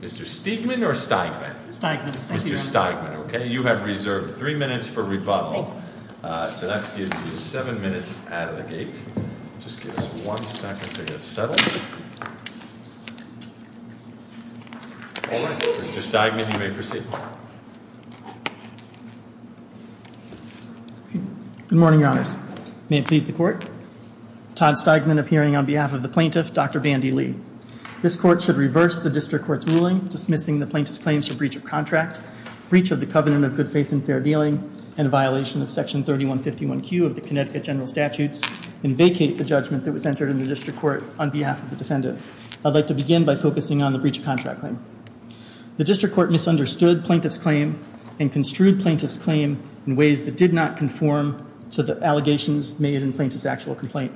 Mr. Steigman, you have three minutes for rebuttal. Mr. Steigman, you may proceed. Good morning, your honors. May it please the court. Todd Steigman appearing on behalf of the plaintiff, Dr. Bandy Lee. This court should reverse the district court's ruling dismissing the plaintiff's claims for breach of contract, breach of the covenant of good faith and fair dealing, and violation of section 3151Q of the Connecticut general statutes and vacate the judgment that was entered in the district court on behalf of the defendant. I'd like to begin by focusing on the breach of contract claim. The district court misunderstood plaintiff's claim and construed plaintiff's claim in ways that did not conform to the allegations made in plaintiff's actual complaint.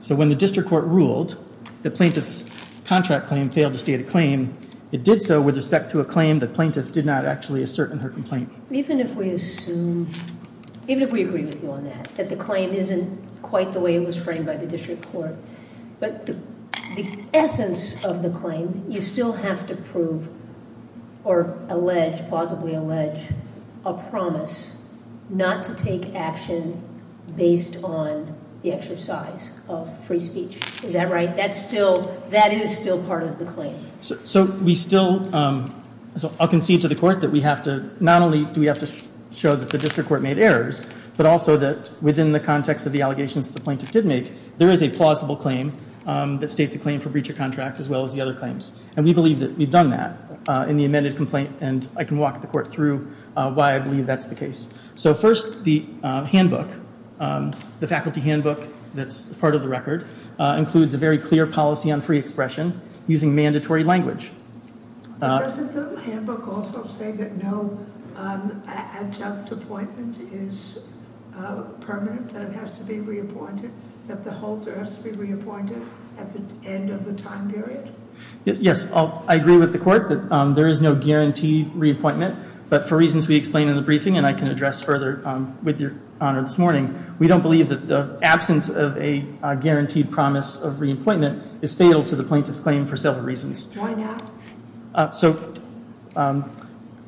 So when the district court ruled that plaintiff's contract claim failed to state a claim, it did so with respect to a claim that plaintiff did not actually assert in her complaint. Even if we assume, even if we agree with you on that, that the claim isn't quite the way it was framed by the district court, but the essence of the claim, you still have to prove or allege, plausibly allege, a promise not to take action based on the exercise of free speech. Is that right? That's still, that is still part of the claim. So we still, so I'll concede to the court that we have to, not only do we have to show that the district court made errors, but also that within the context of the allegations that the plaintiff did make, there is a plausible claim that states a claim for breach of contract as well as the other claims. And we believe that we've done that in the amended complaint, and I can walk the court through why I believe that's the case. So first, the handbook, the faculty handbook that's part of the record, includes a very clear policy on free expression using mandatory language. Doesn't the handbook also say that no adjunct appointment is permanent, that it has to be reappointed, that the holder has to be reappointed at the end of the time period? Yes, I agree with the court that there is no guaranteed reappointment, but for reasons we explained in the briefing, and I can address further with your honor this morning, we don't believe that the absence of a guaranteed promise of reappointment is fatal to the plaintiff's claim for several reasons. Why not? So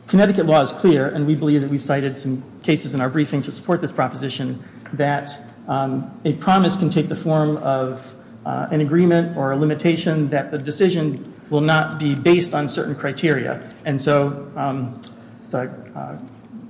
Connecticut law is clear, and we believe that we cited some cases in our briefing to support this proposition, that a promise can take the form of an agreement or a limitation that the decision will not be based on certain criteria. And so the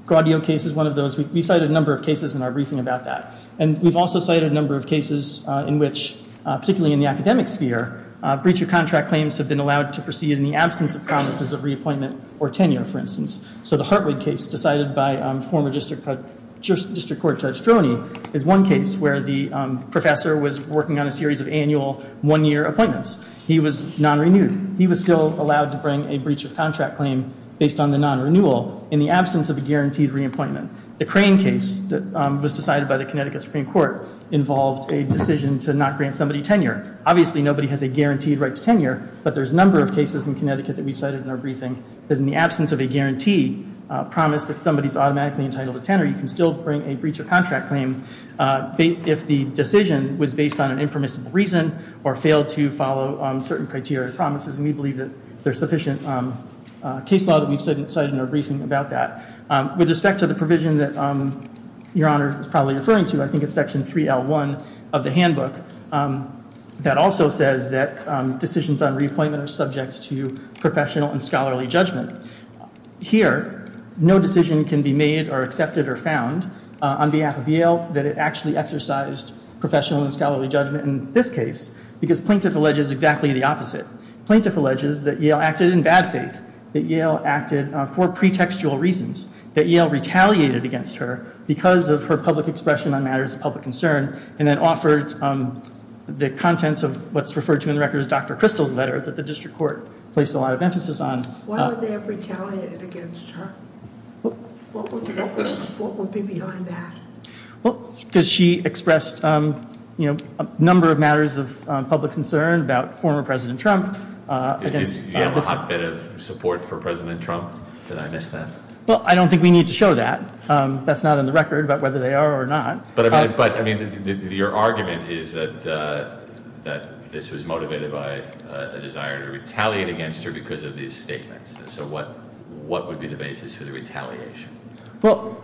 Gladio case is one of those. We cited a number of cases in our briefing about that. And we've also cited a number of cases in which, particularly in the academic sphere, breach of contract claims have been allowed to proceed in the absence of promises of reappointment or tenure, for instance. So the Hartwig case, decided by former District Court Judge Droney, is one case where the professor was working on a series of annual one-year appointments. He was non-renewed. He was still allowed to bring a breach of contract claim based on the non-renewal in the absence of a guaranteed reappointment. The Crane case that was decided by the Connecticut Supreme Court involved a decision to not grant somebody tenure. Obviously, nobody has a guaranteed right to tenure, but there's a number of cases in Connecticut that we've cited in our briefing that in the absence of a guarantee promise that somebody's automatically entitled to tenure, you can still bring a breach of contract claim if the decision was based on an impermissible reason or failed to follow certain criteria and promises. And we believe that there's sufficient case law that we've cited in our briefing about that. With respect to the provision that Your Honor is probably referring to, I think it's Section 3L1 of the handbook, that also says that decisions on reappointment are subject to professional and scholarly judgment. Here, no decision can be made or accepted or found on behalf of Yale that it actually exercised professional and scholarly judgment in this case, because plaintiff alleges exactly the opposite. Plaintiff alleges that Yale acted in bad faith, that Yale acted for pretextual reasons, that Yale retaliated against her because of her public expression on matters of public concern and then offered the contents of what's referred to in the record as Dr. Crystal's letter that the district court placed a lot of emphasis on. Why would they have retaliated against her? What would be behind that? Well, because she expressed a number of matters of public concern about former President Trump. Do you have a hotbed of support for President Trump? Did I miss that? Well, I don't think we need to show that. That's not in the record about whether they are or not. But your argument is that this was motivated by a desire to retaliate against her because of these statements. So what would be the basis for the retaliation? Well,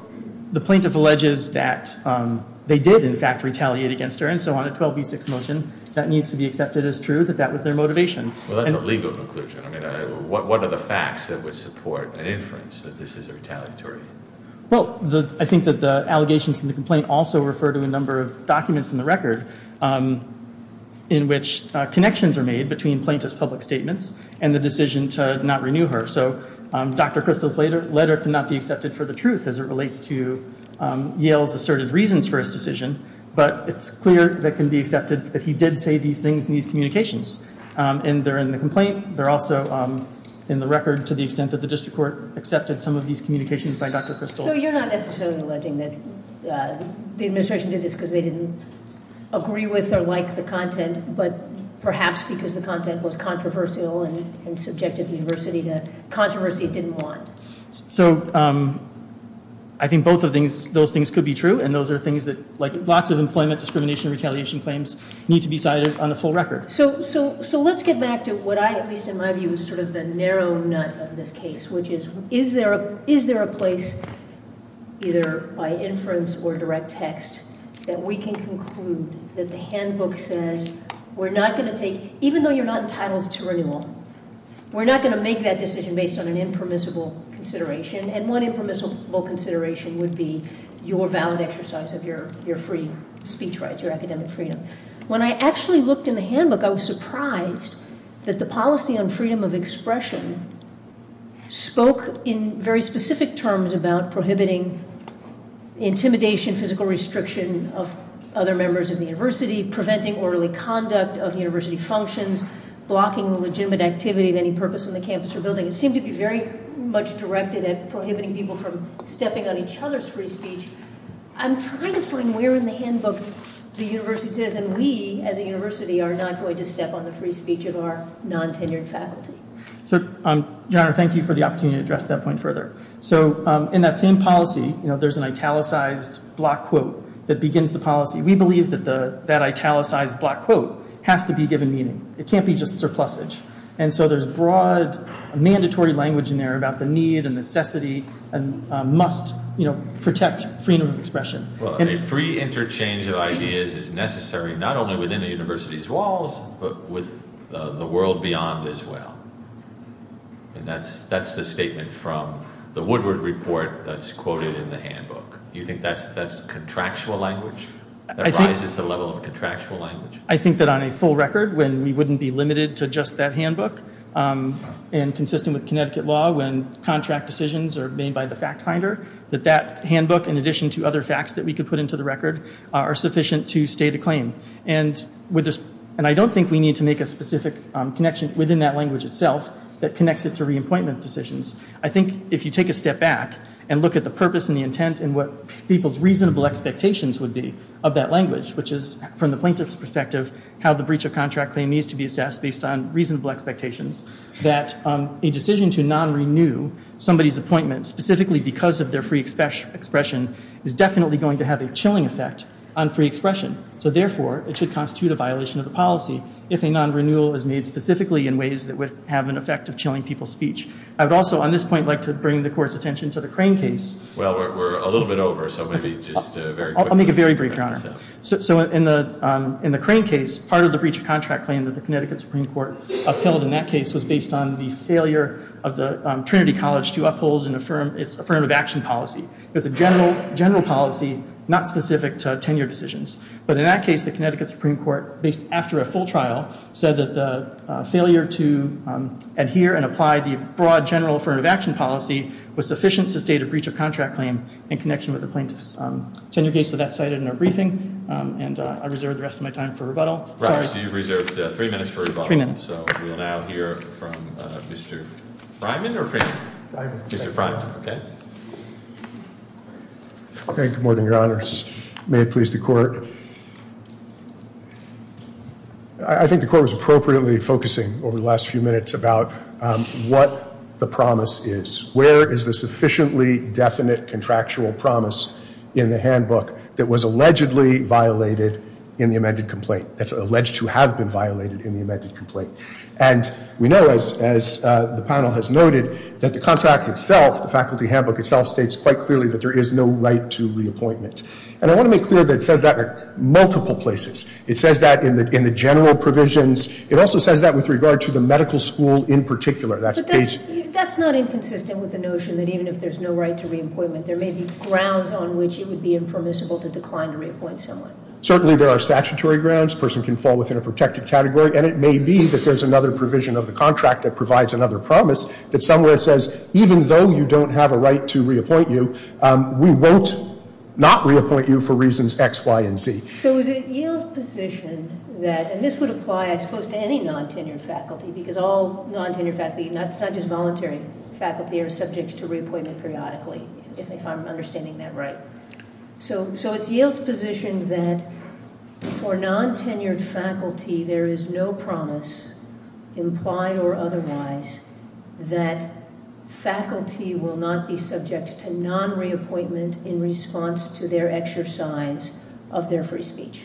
the plaintiff alleges that they did, in fact, retaliate against her, and so on a 12b6 motion that needs to be accepted as true that that was their motivation. Well, that's a legal conclusion. I mean, what are the facts that would support an inference that this is retaliatory? Well, I think that the allegations in the complaint also refer to a number of documents in the record in which connections are made between plaintiff's public statements and the decision to not renew her. So Dr. Kristol's letter cannot be accepted for the truth as it relates to Yale's asserted reasons for his decision. But it's clear that can be accepted that he did say these things in these communications. And they're in the complaint. They're also in the record to the extent that the district court accepted some of these communications by Dr. Kristol. So you're not necessarily alleging that the administration did this because they didn't agree with or like the content, but perhaps because the content was controversial and subjected the university to controversy it didn't want. So I think both of those things could be true, and those are things that like lots of employment discrimination retaliation claims need to be cited on the full record. So let's get back to what I at least in my view is sort of the narrow nut of this case, which is is there a place either by inference or direct text that we can conclude that the handbook says we're not going to take, even though you're not entitled to renewal, we're not going to make that decision based on an impermissible consideration, and one impermissible consideration would be your valid exercise of your free speech rights, your academic freedom. When I actually looked in the handbook, I was surprised that the policy on freedom of expression spoke in very specific terms about prohibiting intimidation, physical restriction of other members of the university, preventing orderly conduct of university functions, blocking the legitimate activity of any purpose on the campus or building. It seemed to be very much directed at prohibiting people from stepping on each other's free speech. I'm trying to find where in the handbook the university says, and we as a university are not going to step on the free speech of our non-tenured faculty. So, Your Honor, thank you for the opportunity to address that point further. So in that same policy, there's an italicized block quote that begins the policy. We believe that that italicized block quote has to be given meaning. It can't be just surplusage. And so there's broad mandatory language in there about the need and necessity and must protect freedom of expression. A free interchange of ideas is necessary not only within the university's walls, but with the world beyond as well. And that's the statement from the Woodward report that's quoted in the handbook. You think that's contractual language? That rises to the level of contractual language? I think that on a full record, when we wouldn't be limited to just that handbook, and consistent with Connecticut law when contract decisions are made by the fact finder, that that handbook, in addition to other facts that we could put into the record, are sufficient to state a claim. And I don't think we need to make a specific connection within that language itself that connects it to reappointment decisions. I think if you take a step back and look at the purpose and the intent and what people's reasonable expectations would be of that language, which is, from the plaintiff's perspective, how the breach of contract claim needs to be assessed based on reasonable expectations, that a decision to non-renew somebody's appointment, specifically because of their free expression, is definitely going to have a chilling effect on free expression. So therefore, it should constitute a violation of the policy if a non-renewal is made specifically in ways that would have an effect of chilling people's speech. I would also, on this point, like to bring the Court's attention to the Crane case. Well, we're a little bit over, so maybe just very quickly. I'll make it very brief, Your Honor. So in the Crane case, part of the breach of contract claim that the Connecticut Supreme Court upheld in that case was based on the failure of the Trinity College to uphold its affirmative action policy. It was a general policy, not specific to tenure decisions. But in that case, the Connecticut Supreme Court, after a full trial, said that the failure to adhere and apply the broad general affirmative action policy was sufficient to state a breach of contract claim in connection with the plaintiff's tenure case. So that's cited in our briefing, and I reserve the rest of my time for rebuttal. So you've reserved three minutes for rebuttal. So we'll now hear from Mr. Fryman or Freeman? Mr. Fryman. Okay. Good morning, Your Honors. May it please the Court. I think the Court was appropriately focusing over the last few minutes about what the promise is. Where is the sufficiently definite contractual promise in the handbook that was allegedly violated in the amended complaint? That's alleged to have been violated in the amended complaint. And we know, as the panel has noted, that the contract itself, the faculty handbook itself, states quite clearly that there is no right to reappointment. And I want to make clear that it says that in multiple places. It says that in the general provisions. It also says that with regard to the medical school in particular. But that's not inconsistent with the notion that even if there's no right to reappointment, there may be grounds on which it would be impermissible to decline to reappoint someone. Certainly there are statutory grounds. A person can fall within a protected category. And it may be that there's another provision of the contract that provides another promise that somewhere it says, even though you don't have a right to reappoint you, we won't not reappoint you for reasons X, Y, and Z. So is it Yale's position that, and this would apply, I suppose, to any non-tenured faculty, because all non-tenured faculty, not just voluntary faculty, are subject to reappointment periodically, if I'm understanding that right. So it's Yale's position that for non-tenured faculty there is no promise, implied or otherwise, that faculty will not be subject to non-reappointment in response to their exercise of their free speech.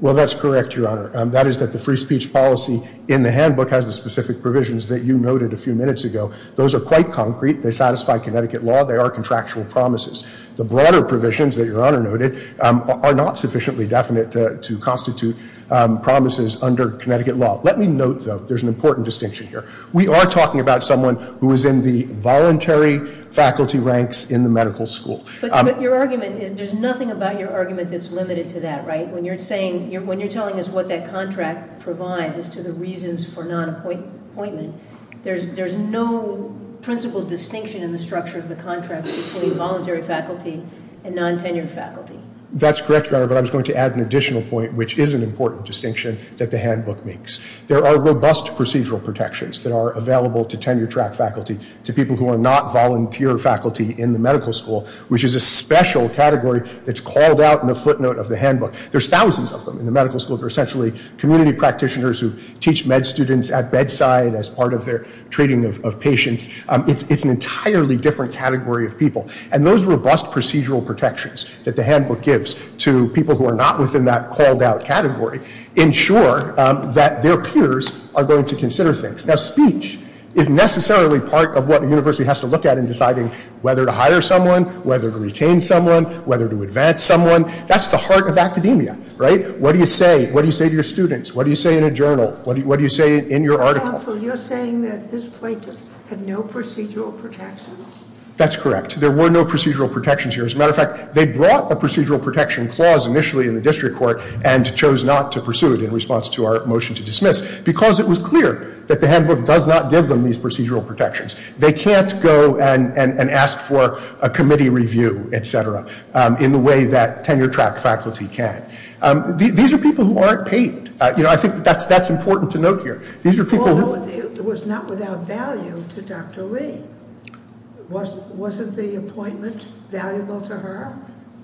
Well, that's correct, Your Honor. That is that the free speech policy in the handbook has the specific provisions that you noted a few minutes ago. Those are quite concrete. They satisfy Connecticut law. They are contractual promises. The broader provisions that Your Honor noted are not sufficiently definite to constitute promises under Connecticut law. Let me note, though, there's an important distinction here. We are talking about someone who is in the voluntary faculty ranks in the medical school. But your argument is, there's nothing about your argument that's limited to that, right? When you're saying, when you're telling us what that contract provides as to the reasons for non-appointment, there's no principle distinction in the structure of the contract between voluntary faculty and non-tenured faculty. That's correct, Your Honor. But I was going to add an additional point, which is an important distinction that the handbook makes. There are robust procedural protections that are available to tenured track faculty, to people who are not volunteer faculty in the medical school, which is a special category that's called out in the footnote of the handbook. There's thousands of them in the medical school. They're essentially community practitioners who teach med students at bedside as part of their treating of patients. It's an entirely different category of people. And those robust procedural protections that the handbook gives to people who are not within that called out category, ensure that their peers are going to consider things. Now, speech is necessarily part of what a university has to look at in deciding whether to hire someone, whether to retain someone, whether to advance someone. That's the heart of academia, right? What do you say? What do you say to your students? What do you say in a journal? What do you say in your article? Counsel, you're saying that this plaintiff had no procedural protections? That's correct. There were no procedural protections here. As a matter of fact, they brought a procedural protection clause initially in the district court and chose not to pursue it in response to our motion to dismiss, because it was clear that the handbook does not give them these procedural protections. They can't go and ask for a committee review, et cetera, in the way that tenured track faculty can. These are people who aren't paid. You know, I think that's important to note here. It was not without value to Dr. Lee. Wasn't the appointment valuable to her?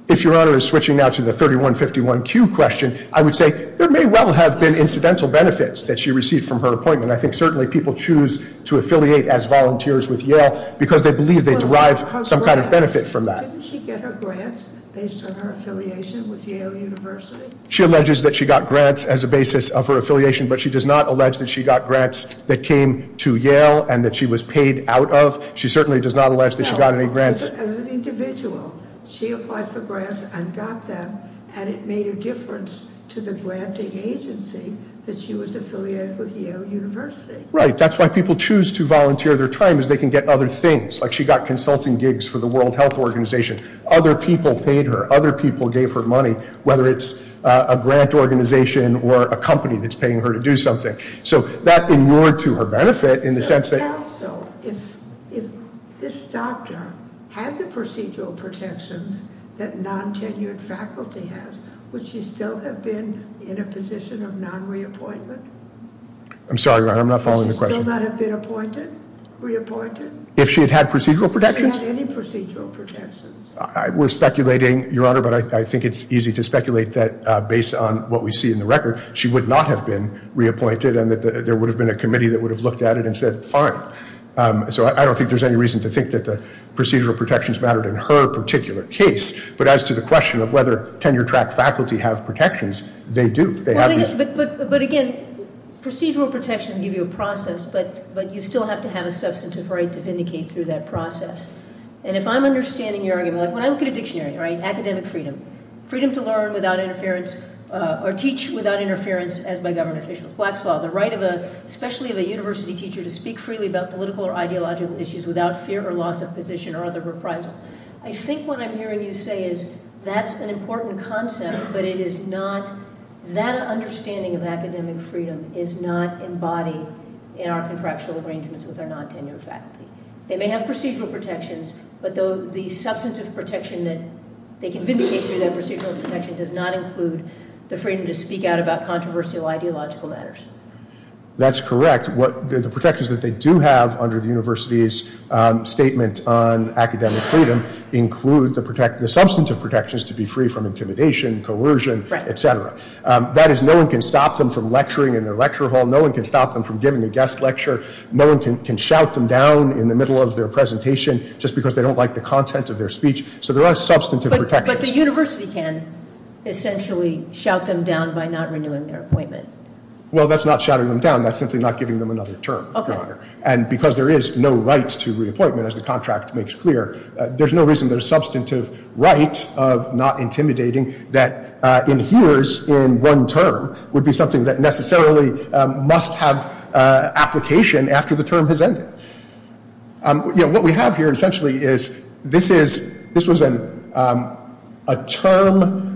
If Your Honor is switching now to the 3151Q question, I would say there may well have been incidental benefits that she received from her appointment. I think certainly people choose to affiliate as volunteers with Yale because they believe they derive some kind of benefit from that. Didn't she get her grants based on her affiliation with Yale University? She alleges that she got grants as a basis of her affiliation, but she does not allege that she got grants that came to Yale and that she was paid out of. She certainly does not allege that she got any grants. No. As an individual, she applied for grants and got them, and it made a difference to the granting agency that she was affiliated with Yale University. Right. That's why people choose to volunteer their time, is they can get other things. Like she got consulting gigs for the World Health Organization. Other people paid her. Other people gave her money, whether it's a grant organization or a company that's paying her to do something. So that inured to her benefit in the sense that- If this doctor had the procedural protections that non-tenured faculty has, would she still have been in a position of non-reappointment? I'm sorry, Your Honor, I'm not following the question. Would she still not have been appointed, reappointed? If she had had procedural protections? If she had any procedural protections. We're speculating, Your Honor, but I think it's easy to speculate that based on what we see in the record, she would not have been reappointed and that there would have been a committee that would have looked at it and said, fine. So I don't think there's any reason to think that the procedural protections mattered in her particular case. But as to the question of whether tenure-track faculty have protections, they do. But again, procedural protections give you a process, but you still have to have a substantive right to vindicate through that process. And if I'm understanding your argument, like when I look at a dictionary, right, academic freedom, freedom to learn without interference or teach without interference as by government officials, Black's Law, the right of a- especially of a university teacher to speak freely about political or ideological issues without fear or loss of position or other reprisal. I think what I'm hearing you say is that's an important concept, but it is not- that understanding of academic freedom is not embodied in our contractual arrangements with our non-tenured faculty. They may have procedural protections, but the substantive protection that they can vindicate through that procedural protection does not include the freedom to speak out about controversial ideological matters. That's correct. The protections that they do have under the university's statement on academic freedom include the substantive protections to be free from intimidation, coercion, etc. That is, no one can stop them from lecturing in their lecture hall. No one can stop them from giving a guest lecture. No one can shout them down in the middle of their presentation just because they don't like the content of their speech. So there are substantive protections. But the university can essentially shout them down by not renewing their appointment. Well, that's not shouting them down. That's simply not giving them another term, Your Honor. Okay. And because there is no right to reappointment, as the contract makes clear, there's no reason there's substantive right of not intimidating that adheres in one term would be something that necessarily must have application after the term has ended. What we have here essentially is this was a term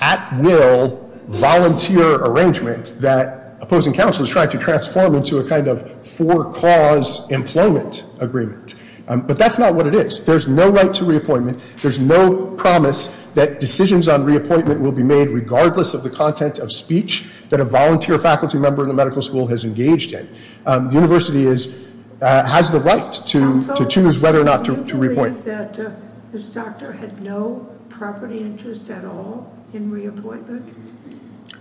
at will volunteer arrangement that opposing counsels tried to transform into a kind of for cause employment agreement. But that's not what it is. There's no right to reappointment. There's no promise that decisions on reappointment will be made regardless of the content of speech that a volunteer faculty member in the medical school has engaged in. The university has the right to choose whether or not to reappoint. Counsel, do you believe that this doctor had no property interest at all in reappointment?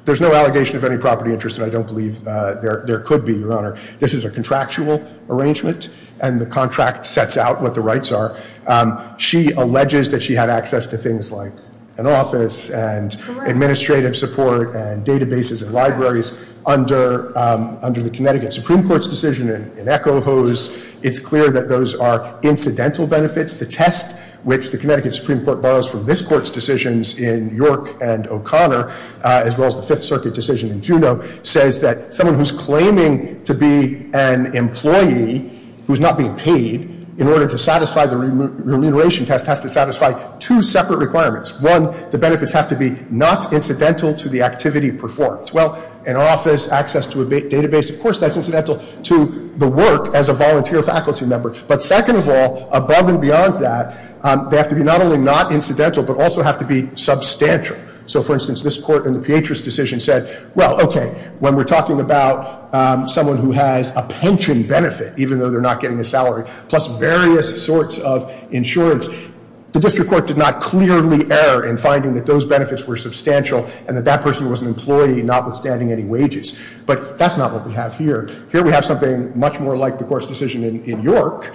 There's no allegation of any property interest, and I don't believe there could be, Your Honor. This is a contractual arrangement, and the contract sets out what the rights are. She alleges that she had access to things like an office and administrative support and databases and libraries under the Connecticut Supreme Court's decision in Echo Hose. It's clear that those are incidental benefits. The test which the Connecticut Supreme Court borrows from this Court's decisions in York and O'Connor, as well as the Fifth Circuit decision in Juneau, says that someone who's claiming to be an employee who's not being paid in order to satisfy the remuneration test has to satisfy two separate requirements. One, the benefits have to be not incidental to the activity performed. Well, an office, access to a database, of course that's incidental to the work as a volunteer faculty member. But second of all, above and beyond that, they have to be not only not incidental but also have to be substantial. So, for instance, this Court in the Pietras decision said, well, okay, when we're talking about someone who has a pension benefit, even though they're not getting a salary, plus various sorts of insurance, the District Court did not clearly err in finding that those benefits were substantial and that that person was an employee notwithstanding any wages. But that's not what we have here. Here we have something much more like the Court's decision in York,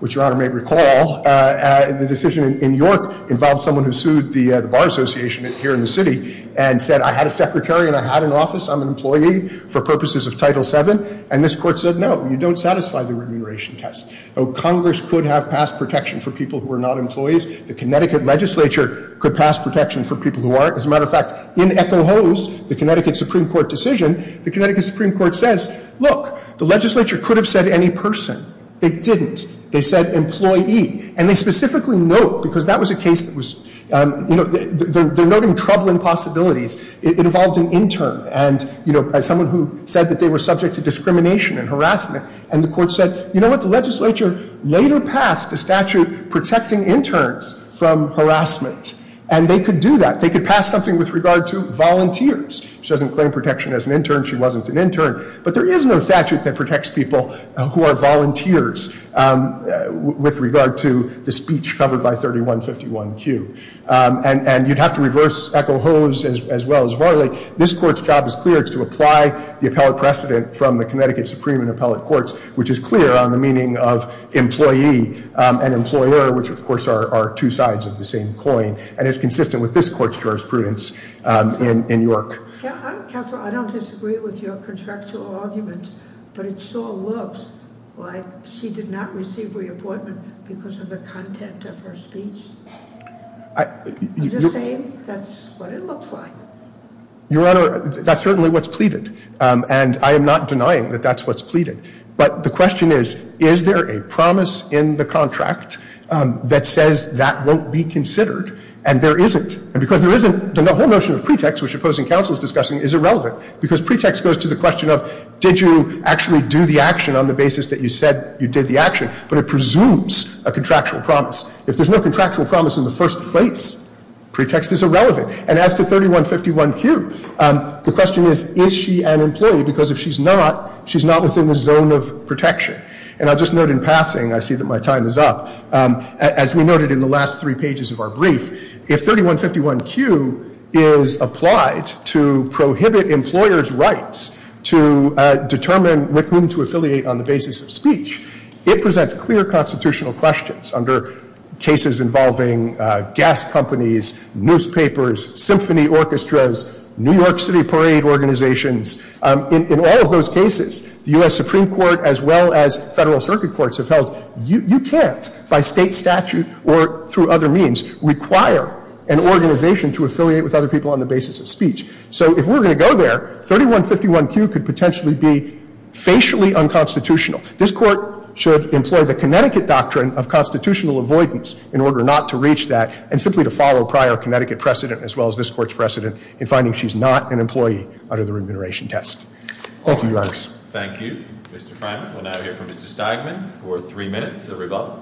which Your Honor may recall. The decision in York involved someone who sued the Bar Association here in the city and said, I had a secretary and I had an office. I'm an employee for purposes of Title VII. And this Court said, no, you don't satisfy the remuneration test. Congress could have passed protection for people who are not employees. The Connecticut legislature could pass protection for people who aren't. As a matter of fact, in Echo Hose, the Connecticut Supreme Court decision, the Connecticut Supreme Court says, look, the legislature could have said any person. They didn't. They said employee. And they specifically note, because that was a case that was, you know, they're noting troubling possibilities. It involved an intern and, you know, as someone who said that they were subject to discrimination and harassment. And the Court said, you know what, the legislature later passed a statute protecting interns from harassment. And they could do that. They could pass something with regard to volunteers. She doesn't claim protection as an intern. She wasn't an intern. But there is no statute that protects people who are volunteers with regard to the speech covered by 3151Q. And you'd have to reverse Echo Hose as well as Varley. This Court's job is clear. It's to apply the appellate precedent from the Connecticut Supreme and Appellate Courts, which is clear on the meaning of employee and employer, which, of course, are two sides of the same coin. And it's consistent with this Court's jurisprudence in York. Counsel, I don't disagree with your contractual argument. But it sure looks like she did not receive reappointment because of the content of her speech. Are you saying that's what it looks like? Your Honor, that's certainly what's pleaded. And I am not denying that that's what's pleaded. But the question is, is there a promise in the contract that says that won't be considered? And there isn't. And because there isn't, the whole notion of pretext, which opposing counsel is discussing, is irrelevant because pretext goes to the question of, did you actually do the action on the basis that you said you did the action? But it presumes a contractual promise. If there's no contractual promise in the first place, pretext is irrelevant. And as to 3151Q, the question is, is she an employee? Because if she's not, she's not within the zone of protection. And I'll just note in passing, I see that my time is up. As we noted in the last three pages of our brief, if 3151Q is applied to prohibit employers' rights to determine with whom to affiliate on the basis of speech, it presents clear constitutional questions under cases involving gas companies, newspapers, symphony orchestras, New York City parade organizations. In all of those cases, the U.S. Supreme Court as well as Federal Circuit Courts have held, you can't, by state statute or through other means, require an organization to affiliate with other people on the basis of speech. So if we're going to go there, 3151Q could potentially be facially unconstitutional. This Court should employ the Connecticut doctrine of constitutional avoidance in order not to reach that and simply to follow prior Connecticut precedent as well as this Court's precedent in finding she's not an employee under the remuneration test. Thank you, Your Honors. Thank you, Mr. Freiman. We'll now hear from Mr. Steigman for three minutes. Sir, revolve.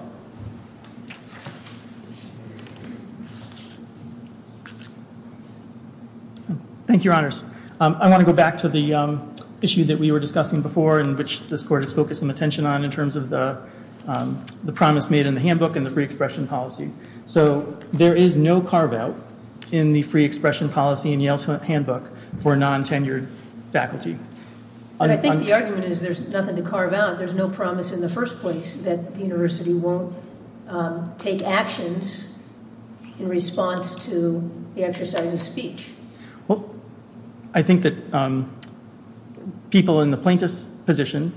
Thank you, Your Honors. I want to go back to the issue that we were discussing before and which this Court has focused some attention on in terms of the promise made in the handbook and the free expression policy. So there is no carve-out in the free expression policy in Yale's handbook for non-tenured faculty. But I think the argument is there's nothing to carve out. There's no promise in the first place that the university won't take actions in response to the exercise of speech. Well, I think that people in the plaintiff's position,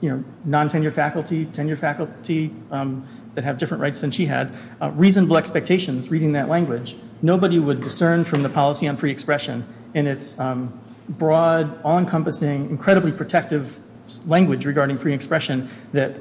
you know, non-tenured faculty, tenured faculty that have different rights than she had, reasonable expectations reading that language, nobody would discern from the policy on free expression in its broad, all-encompassing, incredibly protective language regarding free expression that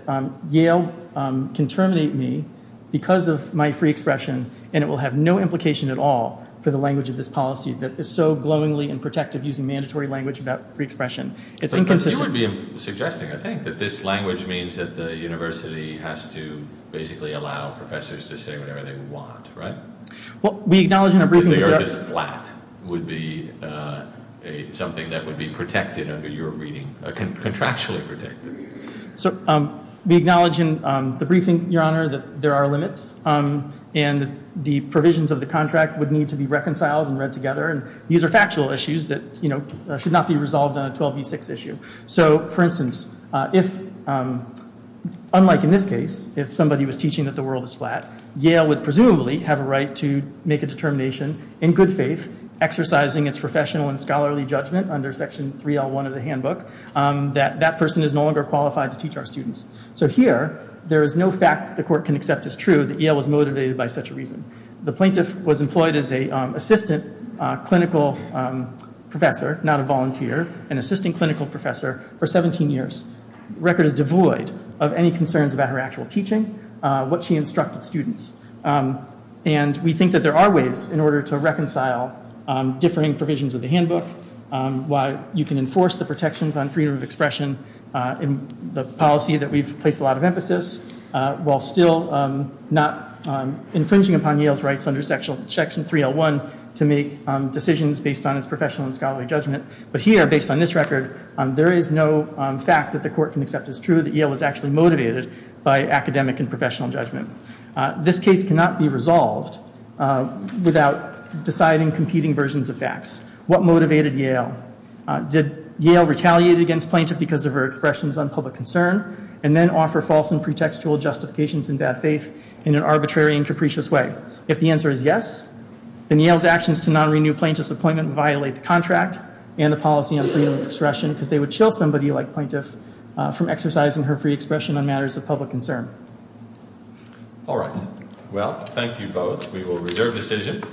Yale can terminate me because of my free expression and it will have no implication at all for the language of this policy that is so glowingly and protective using mandatory language about free expression. It's inconsistent. But you would be suggesting, I think, that this language means that the university has to basically allow professors to say whatever they want, right? Well, we acknowledge in our briefing that- If the earth is flat, would be something that would be protected under your reading, contractually protected. So we acknowledge in the briefing, Your Honor, that there are limits and the provisions of the contract would need to be reconciled and read together. And these are factual issues that, you know, should not be resolved on a 12B6 issue. So, for instance, if, unlike in this case, if somebody was teaching that the world is flat, Yale would presumably have a right to make a determination in good faith, exercising its professional and scholarly judgment under Section 3L1 of the handbook, that that person is no longer qualified to teach our students. So here, there is no fact that the court can accept as true that Yale was motivated by such a reason. The plaintiff was employed as an assistant clinical professor, not a volunteer, an assistant clinical professor, for 17 years. The record is devoid of any concerns about her actual teaching, what she instructed students. And we think that there are ways in order to reconcile differing provisions of the handbook, while you can enforce the protections on freedom of expression in the policy that we've placed a lot of emphasis, while still not infringing upon Yale's rights under Section 3L1 to make decisions based on its professional and scholarly judgment. But here, based on this record, there is no fact that the court can accept as true that Yale was actually motivated by academic and professional judgment. This case cannot be resolved without deciding competing versions of facts. What motivated Yale? Did Yale retaliate against plaintiff because of her expressions on public concern, and then offer false and pretextual justifications in bad faith in an arbitrary and capricious way? If the answer is yes, then Yale's actions to non-renew plaintiff's appointment violate the contract and the policy on freedom of expression, because they would chill somebody like plaintiff from exercising her free expression on matters of public concern. All right. Well, thank you both. We will reserve decision.